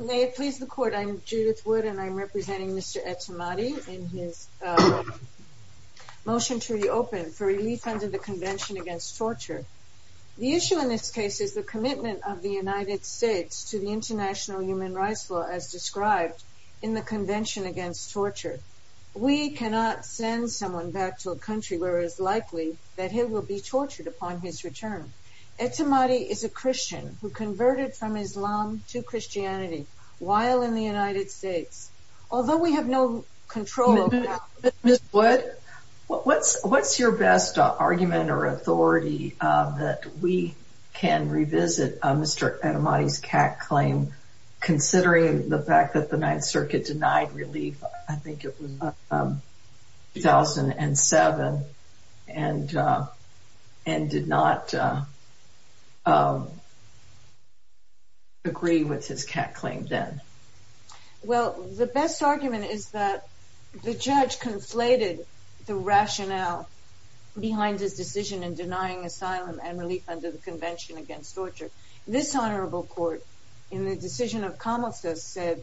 May it please the Court, I'm Judith Wood and I'm representing Mr. Etemadi in his motion to reopen for relief under the Convention Against Torture. The issue in this case is the commitment of the United States to the international human rights law as described in the Convention Against Torture. We cannot send someone back to a country where it is likely that he will be tortured upon his return. Etemadi is a Christian who converted from Islam to Christianity while in the United States. Although we have no control over that. Ms. Wood, what's your best argument or authority that we can revisit Mr. Etemadi's CAC claim considering the fact that the Ninth Circuit denied relief, I think it was 2007, and did not agree with his CAC claim then? Well, the best argument is that the judge conflated the rationale behind his decision in denying asylum and relief under the Convention Against Torture. This Honorable Court, in the decision of Camus, said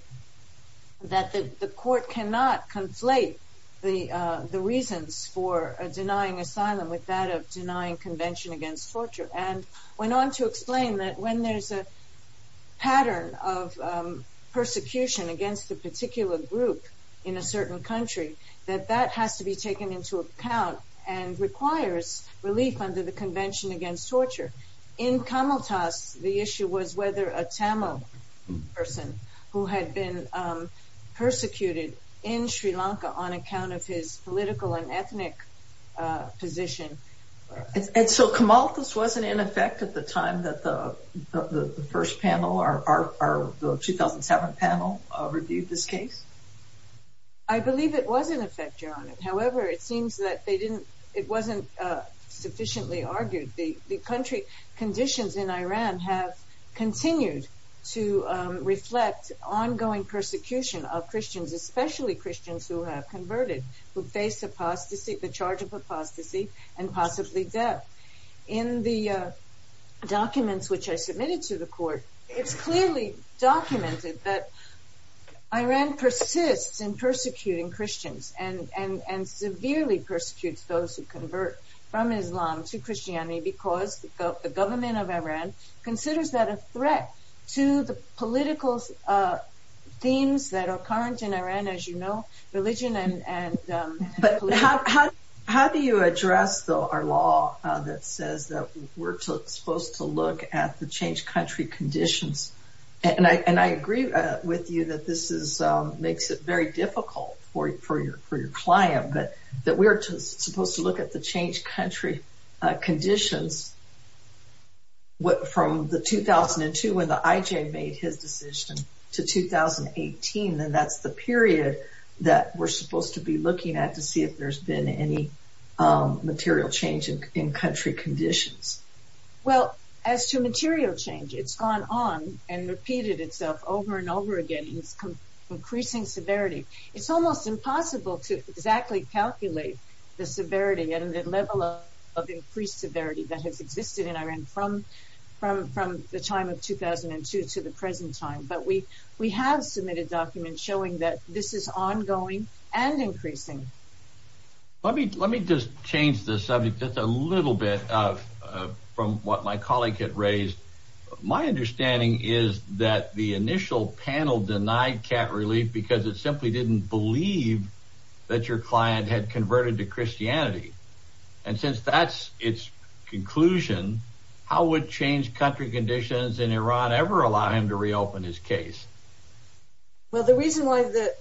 that the court cannot conflate the reasons for denying asylum with that of denying Convention Against Torture, and went on to explain that when there's a pattern of persecution against a particular group in a certain country, that that has to be taken into account and requires relief under the Convention Against Torture. In Kamaltas, the issue was whether a Tamil person who had been persecuted in Sri Lanka on account of his political and ethnic position... And so Kamaltas wasn't in effect at the time that the first panel, our 2007 panel, reviewed this case? I believe it was in effect, Your Honor. However, it seems that it wasn't sufficiently argued. The country conditions in Iran have continued to reflect ongoing persecution of Christians, especially Christians who have converted, who face apostasy, the charge of apostasy, and possibly death. In the documents which I submitted to the court, it's clearly documented that Iran persists in persecuting Christians and severely persecutes those who convert from Islam to Christianity because the government of Iran considers that a threat to the political themes that are current in Iran, as you know, religion and... But how do you address, though, our law that says that we're supposed to look at the changed country conditions? And I agree with you that this makes it very difficult for your client that we're supposed to look at the changed country conditions from the 2002 when the war broke out to 2018, and that's the period that we're supposed to be looking at to see if there's been any material change in country conditions. Well, as to material change, it's gone on and repeated itself over and over again. It's increasing severity. It's almost impossible to exactly calculate the severity and the level of increased severity that has existed in Iran from the time of 2002 to the present time. But we have submitted documents showing that this is ongoing and increasing. Let me just change the subject just a little bit from what my colleague had raised. My understanding is that the initial panel denied cat relief because it simply didn't believe that your client had converted to Christianity. And since that's its conclusion, how would changed country conditions in Iran ever allow him to reopen his case? Well, the reason why the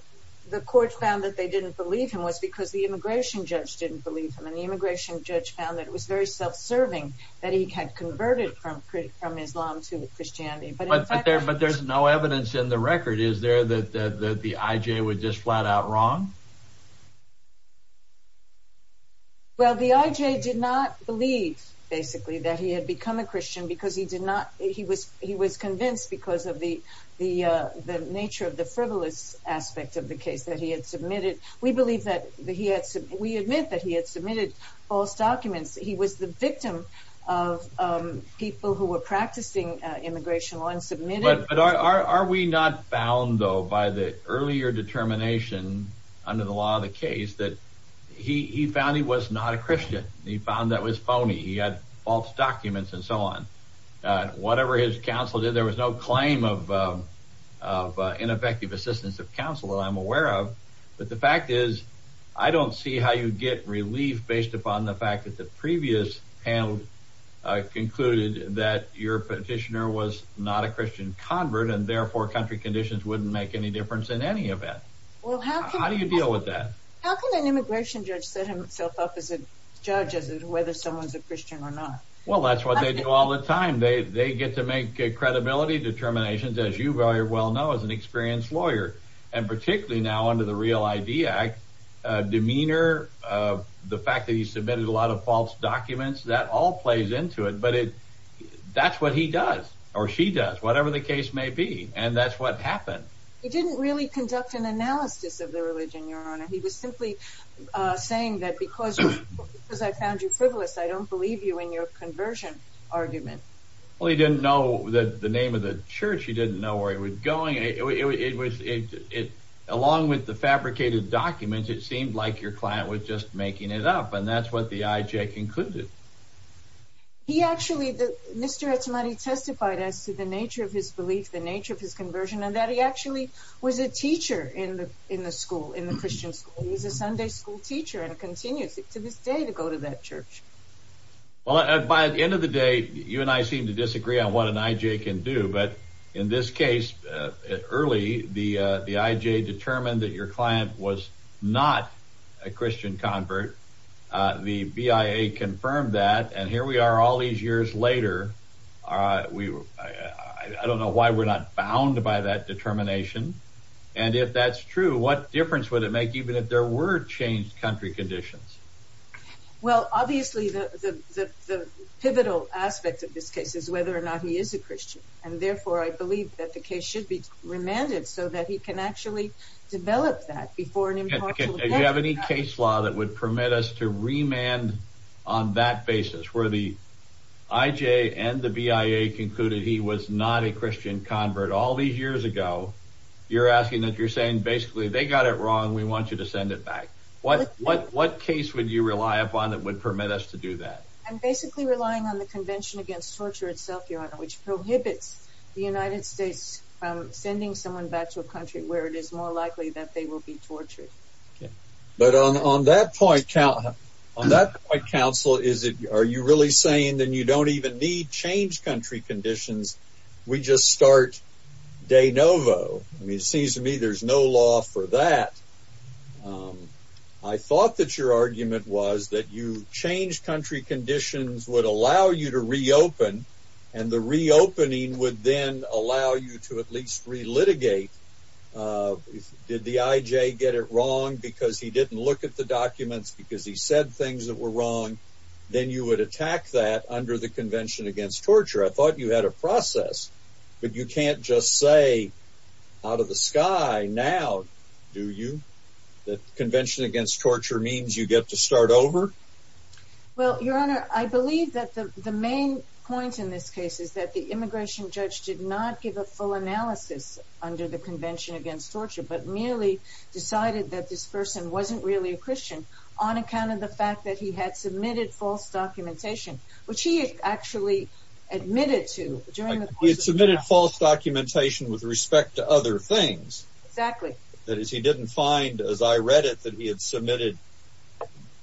court found that they didn't believe him was because the immigration judge didn't believe him. And the immigration judge found that it was very self-serving that he had converted from Islam to Christianity. But there's no evidence in the record, is there, that the IJ would just flat-out wrong? Well, the IJ did not believe, basically, that he had become a Christian because he was convinced because of the nature of the frivolous aspect of the case that he had submitted. We believe that he had – we admit that he had submitted false documents. He was the victim of people who were practicing immigration law and submitted – But are we not bound, though, by the earlier determination under the law of the case that he found he was not a Christian? He found that was phony. He had false documents and so on. Whatever his counsel did, there was no claim of ineffective assistance of counsel that I'm aware of. But the fact is, I don't see how you get relief based upon the fact that the previous panel concluded that your petitioner was not a Christian convert and therefore country conditions wouldn't make any difference in any event. How do you deal with that? How can an immigration judge set himself up as a judge as to whether someone's a Christian or not? Well, that's what they do all the time. They get to make credibility determinations, as you very well know as an experienced lawyer. And particularly now under the REAL ID Act, demeanor, the fact that he submitted a lot of false documents, that all plays into it. But that's what he does. Or she does. Whatever the case may be. And that's what happened. He didn't really conduct an analysis of the religion, Your Honor. He was simply saying that because I found you frivolous, I don't believe you in your conversion argument. Well, he didn't know the name of the church. He didn't know where he was going. It was along with the fabricated documents, it seemed like your client was just making it up. And that's what the IJ concluded. He actually, Mr. Etemadi testified as to the nature of his belief, the nature of his conversion, and that he actually was a teacher in the school, in the Christian school. He was a Sunday school teacher and continues to this day to go to that church. Well, by the end of the day, you and I seem to disagree on what an IJ can do. But in this the IJ determined that your client was not a Christian convert. The BIA confirmed that. And here we are all these years later. I don't know why we're not bound by that determination. And if that's true, what difference would it make even if there were changed country conditions? Well, obviously, the pivotal aspect of this case is whether or not he is a Christian. And therefore, I believe that the case should be remanded so that he can actually develop that before. Do you have any case law that would permit us to remand on that basis where the IJ and the BIA concluded he was not a Christian convert all these years ago? You're asking that you're saying basically, they got it wrong. We want you to send it back. What case would you rely upon that would permit us to do that? I'm basically relying on the Convention Against Torture itself, Your Honor, which prohibits the United States from sending someone back to a country where it is more likely that they will be tortured. But on that point, counsel, are you really saying that you don't even need changed country conditions? We just start de novo. I mean, it seems to me there's no law for that. I thought that your argument was that you changed country conditions would allow you to reopen, and the reopening would then allow you to at least relitigate. Did the IJ get it wrong because he didn't look at the documents because he said things that were wrong? Then you would attack that under the Convention Against Torture. I thought you had a process. But you can't just say out of the sky now, do you? The Convention Against Torture means you get to start over. Well, Your Honor, I believe that the main point in this case is that the immigration judge did not give a full analysis under the Convention Against Torture, but merely decided that this person wasn't really a Christian on account of the fact that he had submitted false documentation, which he had actually admitted to during the course of the trial. He had submitted false documentation with respect to other things. Exactly. That is, he didn't find, as I read it, that he had submitted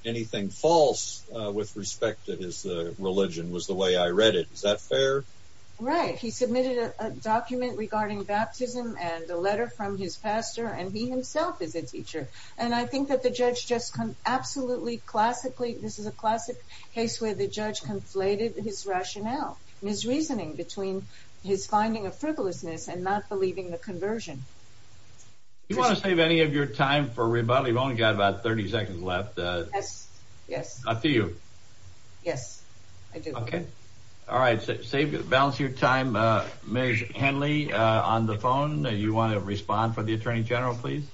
anything false with respect to his religion was the way I read it. Is that fair? Right. He submitted a document regarding baptism and a letter from his pastor, and he himself is a teacher. And I think that the judge just absolutely classically, this is a classic case where the judge conflated his rationale and his reasoning between his finding of frivolousness and not believing the conversion. Do you want to save any of your time for rebuttal? You've only got about 30 seconds left. Yes. Up to you. Yes, I do. Okay. All right. Balance your time. Ms. Henley, on the phone, you want to respond for the Attorney General, please?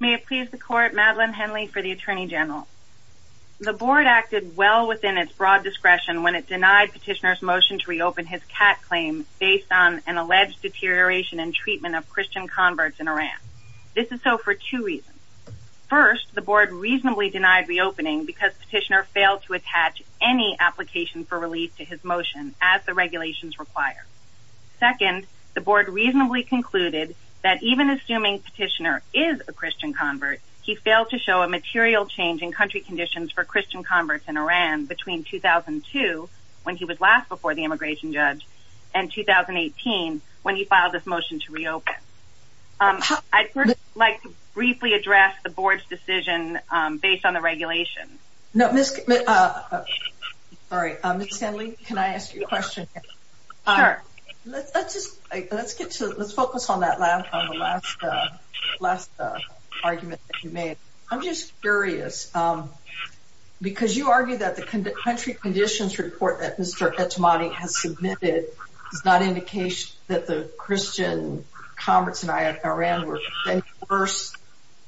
May it please the court, Madeline Henley for the Attorney General. The board acted well within its broad discretion when it denied petitioner's motion to reopen his cat claim based on an alleged deterioration and treatment of Christian converts in Iran. This is so for two reasons. First, the board reasonably denied reopening because petitioner failed to attach any application for relief to his motion as the regulations require. Second, the board reasonably concluded that even assuming petitioner is a Christian convert, he failed to show a material change in country conditions for Christian converts in Iran between 2002, when he was last before the immigration judge, and 2018, when he filed this motion to reopen. I'd like to briefly address the board's decision based on the regulations. No. Sorry. Ms. Henley, can I ask you a question? Sure. Let's focus on that last argument that you made. I'm just curious, because you argue that the country conditions report that Mr. Etemadi has submitted is not indication that Christian converts in Iran were worse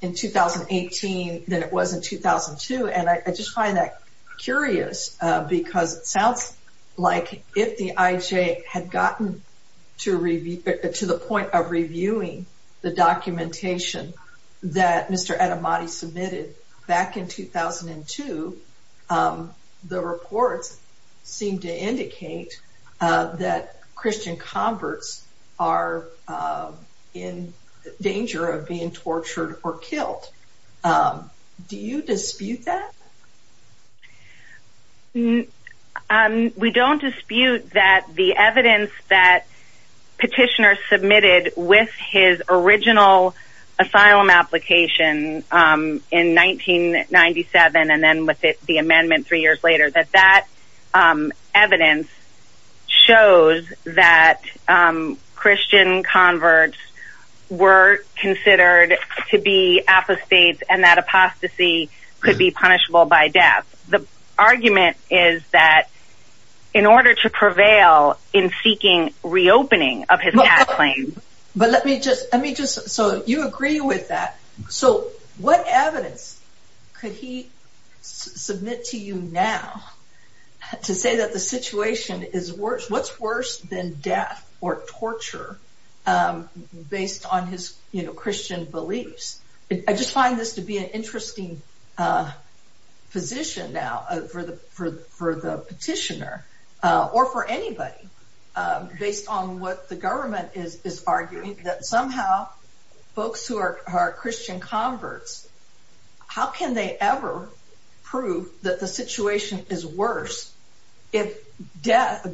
in 2018 than it was in 2002. I just find that curious, because it sounds like if the IJ had gotten to the point of reviewing the documentation that Mr. Etemadi submitted back in 2002, the reports seem to indicate that Christian converts are in danger of being tortured or killed. Do you dispute that? We don't dispute that the evidence that petitioner submitted with his original asylum application in 1997, and then with the amendment three years later, that that evidence shows that Christian converts were considered to be apostates, and that apostasy could be punishable by death. The argument is that in order to prevail in seeking reopening of his tax claim... But let me just, so you agree with that. So what evidence could he submit to you now to say that the situation is worse? What's worse than death or torture based on his, you know, Christian beliefs? I just find this to be an interesting position now for the petitioner, or for anybody, based on what the government is arguing, that somehow folks who are Christian converts, how can they ever prove that the situation is worse than death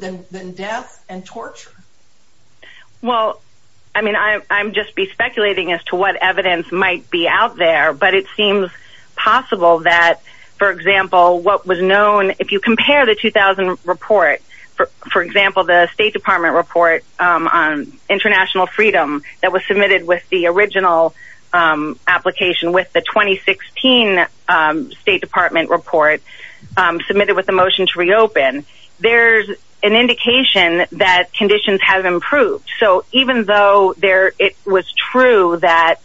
and torture? Well, I mean, I'm just speculating as to what evidence might be out there, but it seems possible that, for example, what was known, if you compare the 2000 report, for example, the State Department report on international freedom that was submitted with the original application with the 2016 State Department report, submitted with the motion to reopen, there's an indication that conditions have improved. So even though it was true that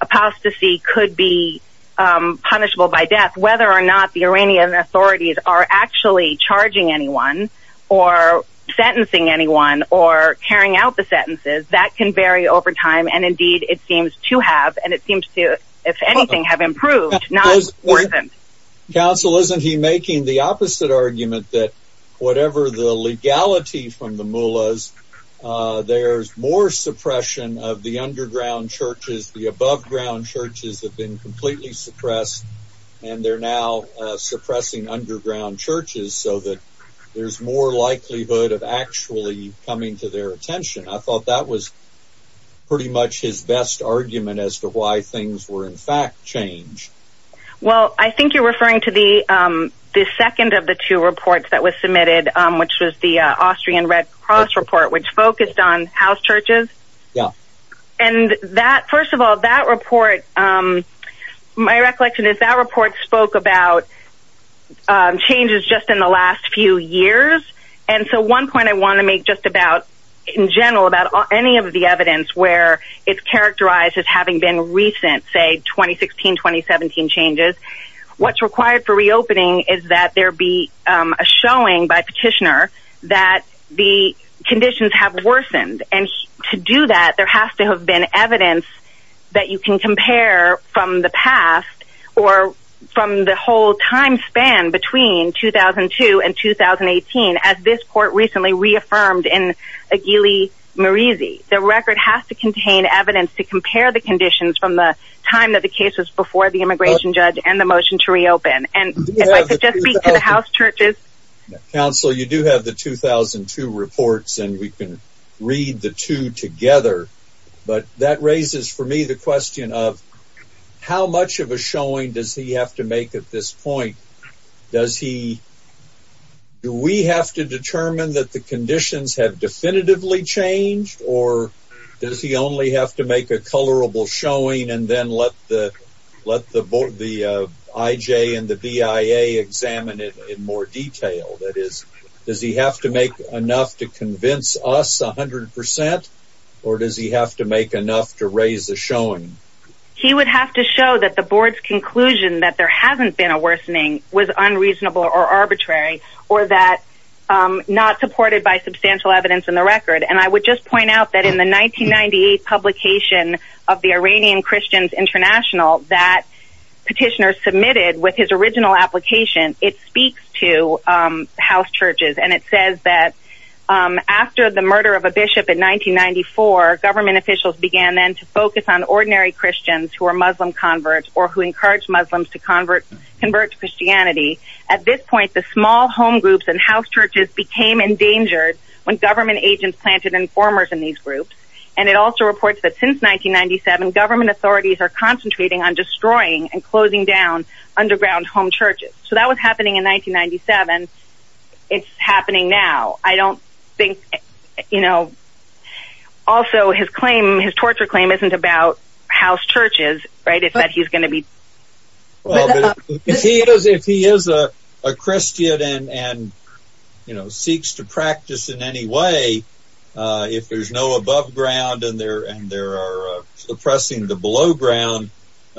apostasy could be punishable by death, whether or not the Iranian authorities are actually charging anyone, or sentencing anyone, or carrying out the sentences, that can vary over time, and indeed it seems to have, and it seems to, if anything, have improved, not worsened. Counsel, isn't he making the opposite argument that whatever the legality from the mullahs, there's more suppression of the underground churches, the above ground churches have been completely suppressed, and they're now suppressing underground churches so that there's more likelihood of actually coming to their attention? I thought that was pretty much his best argument as to why things were in fact changed. Well, I think you're referring to the second of the two reports that was submitted, which was the Austrian Red Cross report, which focused on house churches. Yeah. And that, first of all, that report, my recollection is that report spoke about changes just in the last few years, and so one point I any of the evidence where it's characterized as having been recent, say 2016-2017 changes, what's required for reopening is that there be a showing by petitioner that the conditions have worsened, and to do that there has to have been evidence that you can compare from the past, or from the whole time span between 2002 and 2018, as this court recently reaffirmed in Murizi. The record has to contain evidence to compare the conditions from the time that the case was before the immigration judge and the motion to reopen. And if I could just speak to the house churches. Counsel, you do have the 2002 reports, and we can read the two together, but that raises for me the question of how much of a showing does he have to make at this point? Does he, do we have to determine that the conditions have definitively changed, or does he only have to make a colorable showing and then let the let the board, the IJ and the BIA examine it in more detail? That is, does he have to make enough to convince us 100 percent, or does he have to make enough to raise the showing? He would have to show that the board's conclusion that there hasn't been a worsening was unreasonable or arbitrary, or that not supported by substantial evidence in the record. And I would just point out that in the 1998 publication of the Iranian Christians International that Petitioner submitted with his original application, it speaks to house churches, and it says that after the murder of a bishop in 1994, government officials began then to focus on ordinary Christians who are Muslim converts, or who encourage Muslims to convert to Christianity. At this point, the small home groups and house churches became endangered when government agents planted informers in these groups, and it also reports that since 1997, government authorities are concentrating on destroying and closing down underground home churches. So that was happening in 1997. It's happening now. I don't think, you know, also his claim, his torture claim isn't about house churches, right, it's that he's going to be... Well, if he is a Christian and, you know, seeks to practice in any way, if there's no above ground and there are suppressing the below ground,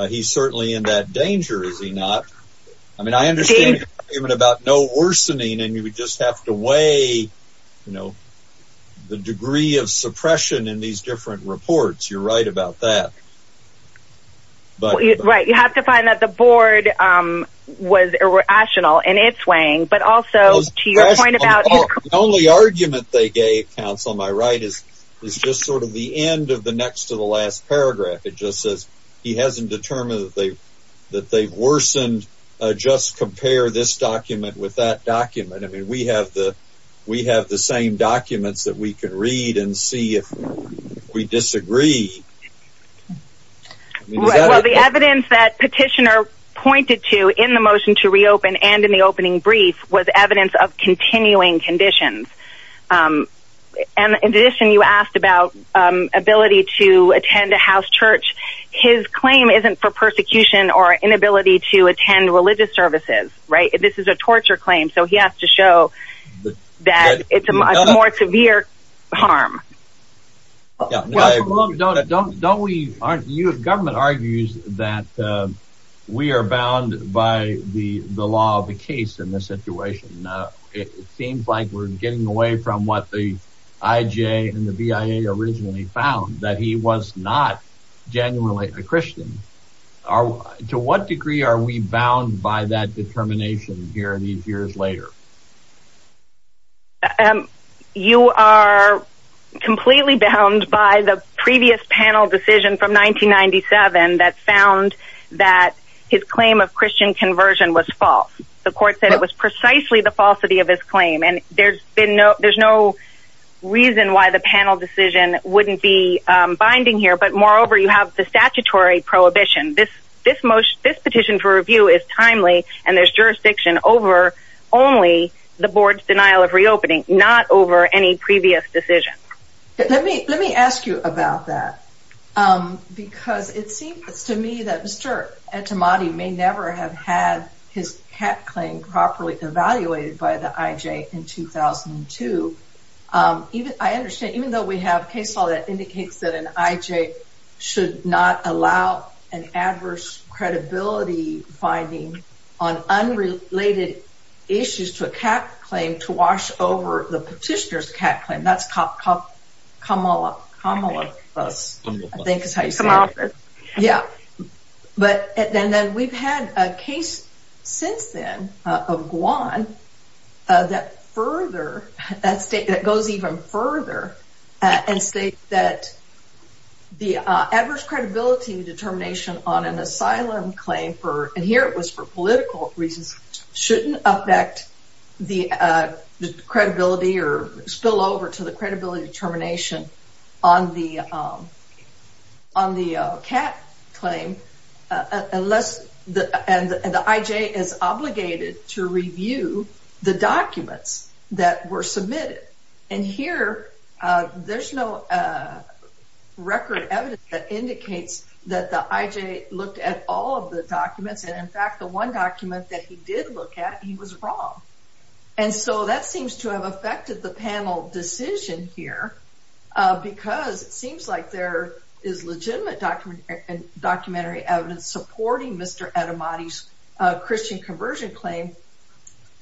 he's certainly in that danger, is he not? I mean, I understand the argument about no worsening, and you would just have to weigh, you know, the degree of suppression in these different reports. You're right about that. Right, you have to find that the board was irrational in its weighing, but also to your point about... The only argument they gave, Councilman, on my right, is just sort of the end of the next to the last paragraph. It just says he hasn't determined that they've worsened, just compare this document with that document. I mean, we have the same documents that we can read and see if we disagree. Well, the evidence that petitioner pointed to in the motion to reopen and in the opening brief was evidence of continuing conditions. And in addition, you asked about ability to attend a house church. His claim isn't for persecution or inability to attend religious services, right? This is a torture claim, so he has to show that it's a much more severe harm. Don't we, aren't you, government argues that we are bound by the law of the case in this situation. It seems like we're getting away from what the IJ and the BIA originally found, that he was not genuinely a Christian. To what degree are we bound by that determination here in these years later? You are completely bound by the previous panel decision from 1997 that found that his claim of Christian conversion was false. The court said it was precisely the falsity of this claim. And there's been no, there's no reason why the panel decision wouldn't be binding here. But moreover, you have the statutory prohibition. This petition for review is timely and there's jurisdiction over only the board's denial of reopening, not over any previous decision. Let me ask you about that, because it seems to me that Mr. Etemadi may never have had his IJ in 2002. I understand, even though we have case law that indicates that an IJ should not allow an adverse credibility finding on unrelated issues to a cat claim to wash over the petitioner's cat claim. That's Kamala. I think that's how you say it. Yeah, but and then we've had a case since then of Guan that further, that state that goes even further and state that the adverse credibility determination on an asylum claim for, and here it was for political reasons, shouldn't affect the credibility or spill over to the credibility determination on the cat claim unless, and the IJ is obligated to review the documents that were submitted. And here, there's no record evidence that indicates that the IJ looked at all of the documents. And in fact, the one document that he did look at, he was wrong. And so that seems to have affected the panel decision here, because it seems like there is legitimate documentary evidence supporting Mr. Etemadi's Christian conversion claim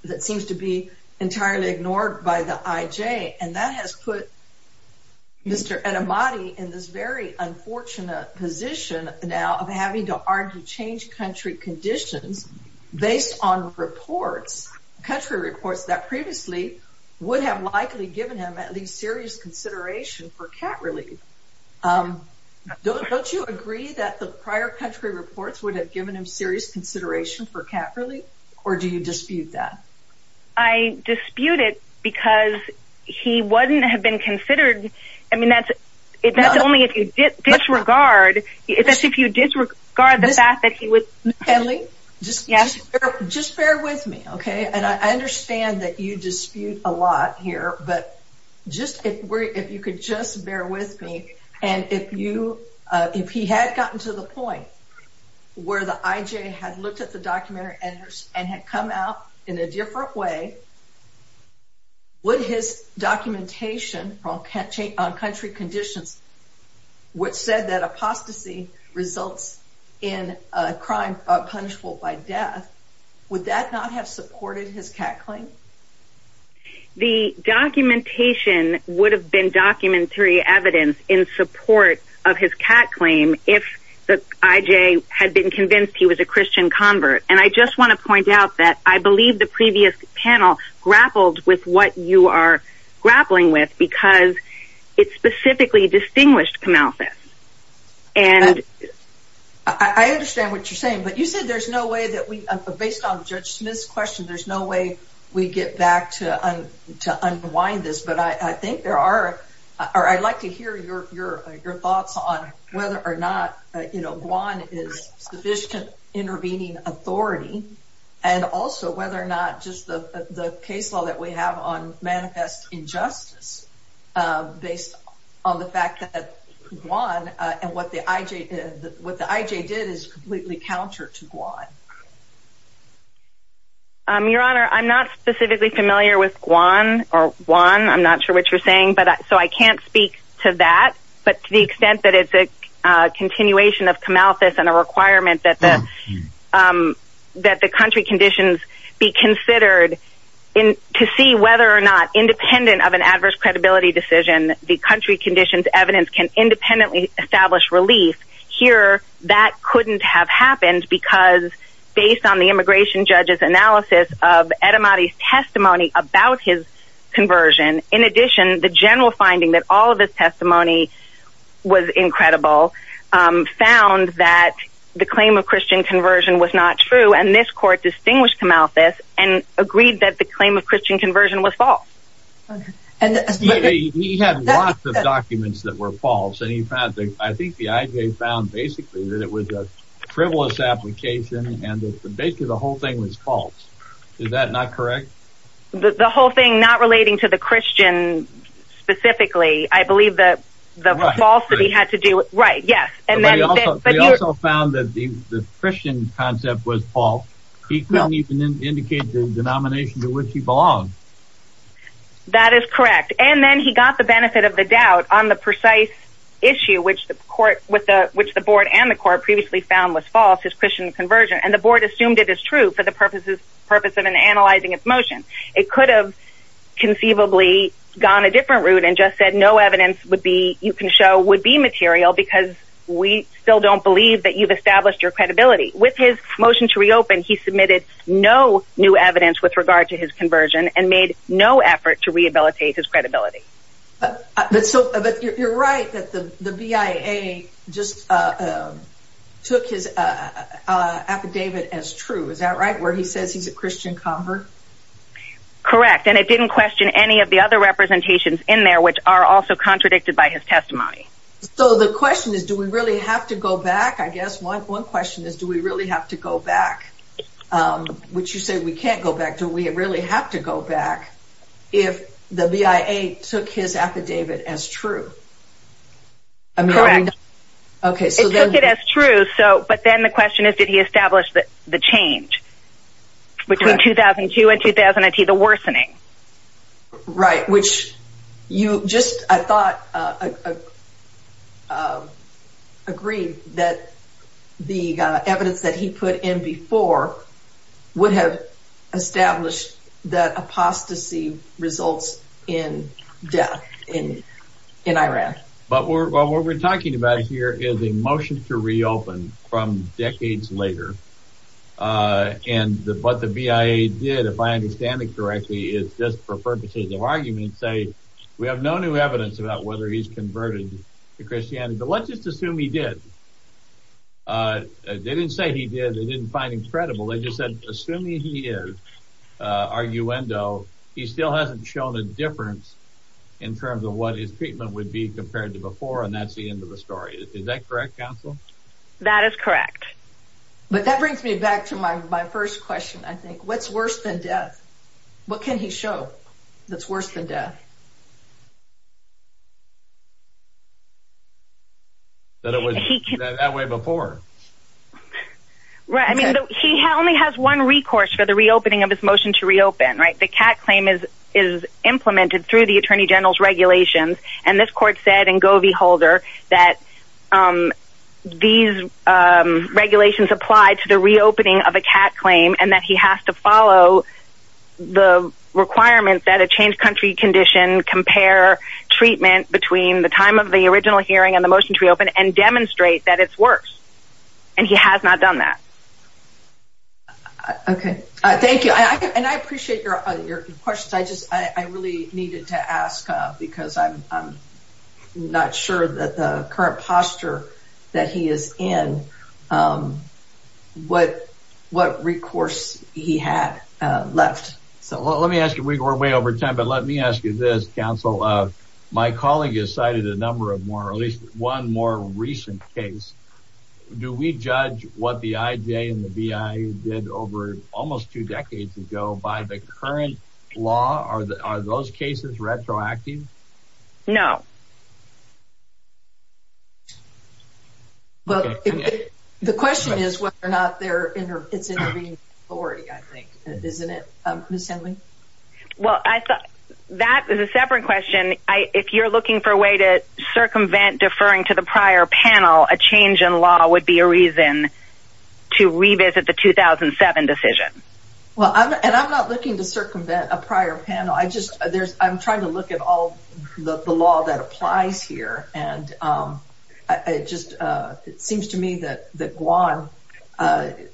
that seems to be entirely ignored by the IJ. And that has put Mr. Etemadi in this very previously would have likely given him at least serious consideration for cat relief. Don't you agree that the prior country reports would have given him serious consideration for cat relief? Or do you dispute that? I dispute it, because he wouldn't have been considered. I mean, that's it. That's only if you disregard it, if you disregard the fact that he was peddling. Just bear with me, okay? And I understand that you dispute a lot here, but if you could just bear with me, and if he had gotten to the point where the IJ had looked at the documentary and had come out in a different way, would his documentation on country conditions, which said that apostasy results in a crime punishable by death, would that not have supported his cat claim? The documentation would have been documentary evidence in support of his cat claim if the IJ had been convinced he was a Christian convert. And I just want to point out that I believe the previous panel grappled with what you are grappling with, because it specifically distinguished Camalthus. I understand what you're saying, but you said there's no way that we, based on Judge Smith's question, there's no way we get back to unwind this. But I think there are, or I'd like to hear your thoughts on whether or not, you know, Guam is sufficient intervening authority, and also whether or not just the case law that we have on manifest injustice, based on the fact that Guam, and what the IJ did, is completely counter to Guam. Your Honor, I'm not specifically familiar with Guam, or Juan, I'm not sure what you're saying, but so I can't speak to that, but to the extent that it's a continuation of Camalthus and a requirement that the country conditions be considered to see whether or not, independent of an adverse credibility decision, the country conditions evidence can independently establish relief, here that couldn't have happened, because based on the immigration judge's analysis of Edamati's testimony about his conversion, in addition, the general finding that all of his testimony was incredible, found that the claim of Christian conversion was not true, and this court distinguished Camalthus and agreed that the claim of Christian conversion was false. And he had lots of documents that were false, and he found that, I think the IJ found basically that it was a frivolous application, and basically the whole thing was false. Is that not correct? The whole thing not relating to the Christian, specifically, I believe that the falsity had to do with, right, yes, and then they also found that the Christian concept was false. He couldn't even indicate the denomination to which he belonged. That is correct, and then he got the benefit of the doubt on the precise issue which the court, which the board and the court previously found was false, his Christian conversion, and the board assumed it is true for the purpose of analyzing its motion. It could have conceivably gone a different route and just said no evidence would be, you can show would be material, because we still don't believe that you've established your credibility. With his new evidence with regard to his conversion and made no effort to rehabilitate his credibility. But you're right that the BIA just took his affidavit as true. Is that right, where he says he's a Christian convert? Correct, and it didn't question any of the other representations in there which are also contradicted by his testimony. So the question is, do we really have to go back? I guess one question is, do we really have to go back? Which you say we can't go back, do we really have to go back if the BIA took his affidavit as true? Correct. It took it as true, but then the question is, did he establish the change between 2002 and 2010, the worsening? Right, which you just, I thought, agreed that the evidence that he put in before would have established that apostasy results in death in Iraq. But what we're talking about here is a motion to reopen from decades later, and what the BIA did, if I understand it correctly, is just for purposes of argument say, we have no new evidence about whether he's converted to Christianity, but let's just assume he did. They didn't say he did, they didn't find him credible, they just said, assuming he is, arguendo, he still hasn't shown a difference in terms of what his treatment would be compared to before, and that's the end of the story. Is that correct, counsel? That is correct. But that brings me back to my first question, I think. What's worse than death? What can he show that's worse than death? That it was that way before. Right, I mean, he only has one recourse for the reopening of his motion to reopen, right? The cat claim is implemented through the Attorney General's regulations, and this court said in Govey-Holder that these regulations apply to the reopening of a cat claim, and that he has to follow the requirements that a changed country condition compare treatment between the time of the original hearing and the motion to reopen, and demonstrate that it's worse, and he has not done that. Okay, thank you, and I appreciate your questions. I just, I really needed to ask, because I'm not sure that the current posture that he is in, what recourse he had left. So let me ask you, we're way over time, but let me ask you this, counsel. My colleague has cited a number of more, at least one more recent case. Do we judge what the IJ and the VI did over almost two decades ago by the current law? Are those cases retroactive? No. Well, the question is whether or not it's intervened in the majority, I think, isn't it, Ms. Henley? Well, that is a separate question. If you're looking for a way to circumvent deferring to the prior panel, a change in law would be a reason to revisit the 2007 decision. Well, and I'm not looking to circumvent a prior panel. I just, there's, I'm trying to look at all the law that applies here, and it just, it seems to me that Guam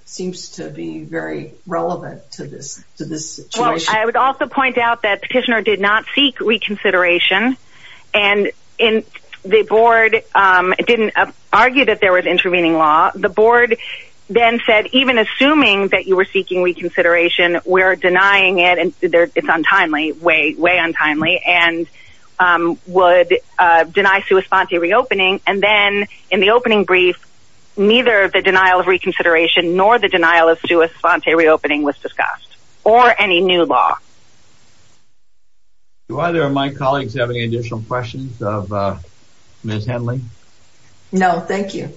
seems to be very relevant to this situation. Well, I would also point out that petitioner did not seek reconsideration, and the board didn't argue that there was intervening law. The board then said, even assuming that you were seeking reconsideration, we're denying it, and it's untimely, way, way untimely, and would deny sua sponte reopening, and then in the opening brief, neither the denial of reconsideration nor the denial of sua sponte reopening was discussed, or any new law. Do either of my colleagues have any additional questions of Ms. Henley? No, thank you.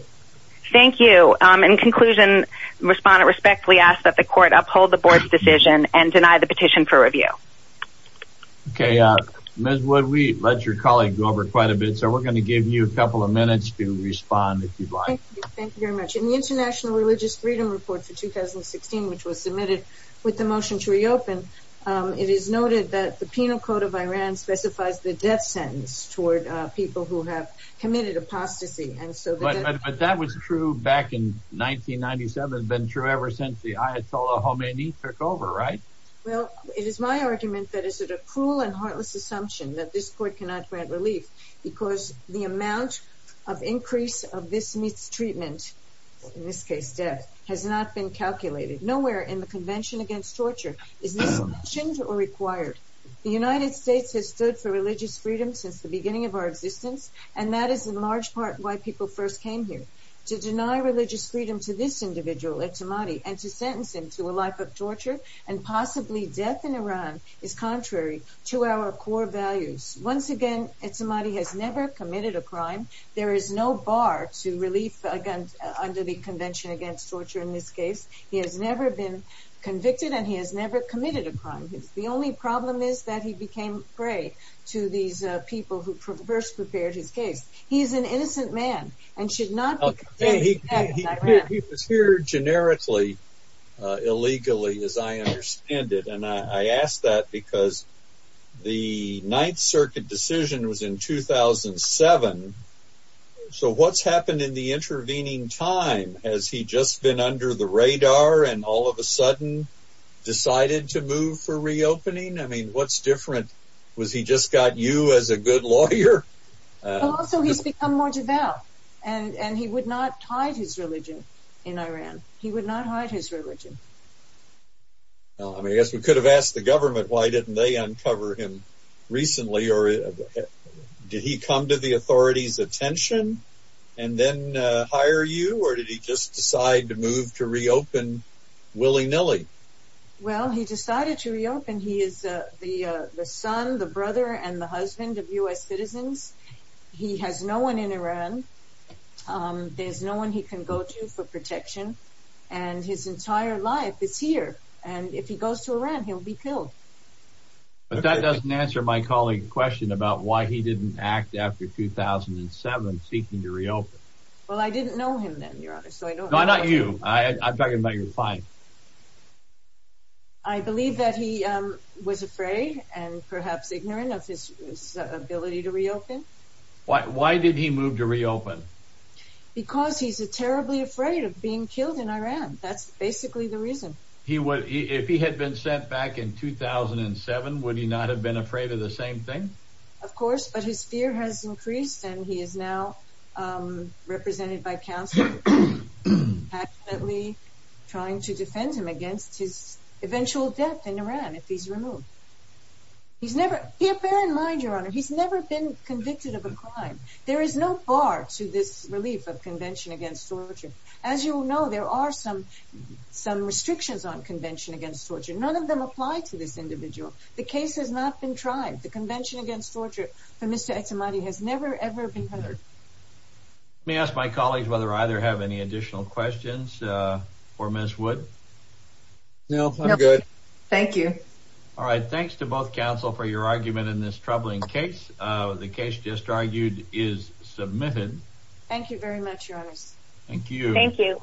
Thank you. In conclusion, respondent respectfully asked that the court uphold the board's decision and deny the petition for review. Okay, Ms. Wood, we let your colleague go over quite a bit, so we're going to give you a couple of minutes to respond if you'd like. Thank you very much. In the International Religious Freedom Report for 2016, which was submitted with the motion to reopen, it is noted that the penal code of Iran specifies the death apostasy. But that was true back in 1997, been true ever since the Ayatollah Khomeini took over, right? Well, it is my argument that is it a cruel and heartless assumption that this court cannot grant relief, because the amount of increase of this mistreatment, in this case death, has not been calculated. Nowhere in the Convention Against Torture is this mentioned or required. The United States has stood for religious freedom since the beginning of our existence, and that is in large part why people first came here. To deny religious freedom to this individual, Etemadi, and to sentence him to a life of torture, and possibly death in Iran, is contrary to our core values. Once again, Etemadi has never committed a crime. There is no bar to relief under the Convention Against Torture in this case. He has never been convicted, and he has never committed a crime. The only problem is that he became prey to these people who first prepared his case. He is an innocent man, and should not be condemned to death in Iran. He was here generically, illegally, as I understand it, and I ask that because the Ninth Circuit decision was in 2007. So what's happened in the intervening time? Has he just been under the radar and all of a sudden decided to move for reopening? I mean, what's different? Was he just got you as a good lawyer? Also, he's become more devout, and he would not hide his religion in Iran. He would not hide his religion. Well, I guess we could have asked the government why didn't they uncover him recently, or did he come to the authorities' attention and then hire you, or did he just decide to move to reopen willy-nilly? Well, he decided to reopen. He is the son, the brother, and the husband of U.S. citizens. He has no one in Iran. There's no one he can go to for protection, and his entire life is here, and if he goes to Iran, he'll be killed. But that doesn't answer my colleague's question about why he didn't act after 2007, seeking to reopen. Well, I didn't know him then, Your Honor, so I don't know. No, not you. I'm talking about your client. I believe that he was afraid and perhaps ignorant of his ability to reopen. Why did he move to reopen? Because he's terribly afraid of being killed in Iran. That's basically the reason. If he had been sent back in 2007, would he not have been afraid of the same thing? Of course, but his fear has increased, and he is now represented by counselors, trying to defend him against his eventual death in Iran if he's removed. Bear in mind, Your Honor, he's never been convicted of a crime. There is no bar to this relief of Convention Against Torture. As you know, there are some restrictions on Convention Against Torture. None of them apply to this individual. The case has ever been heard. Let me ask my colleague whether I have any additional questions for Ms. Wood. No, I'm good. Thank you. All right. Thanks to both counsel for your argument in this troubling case. The case just argued is submitted. Thank you very much, Your Honors. Thank you. Thank you.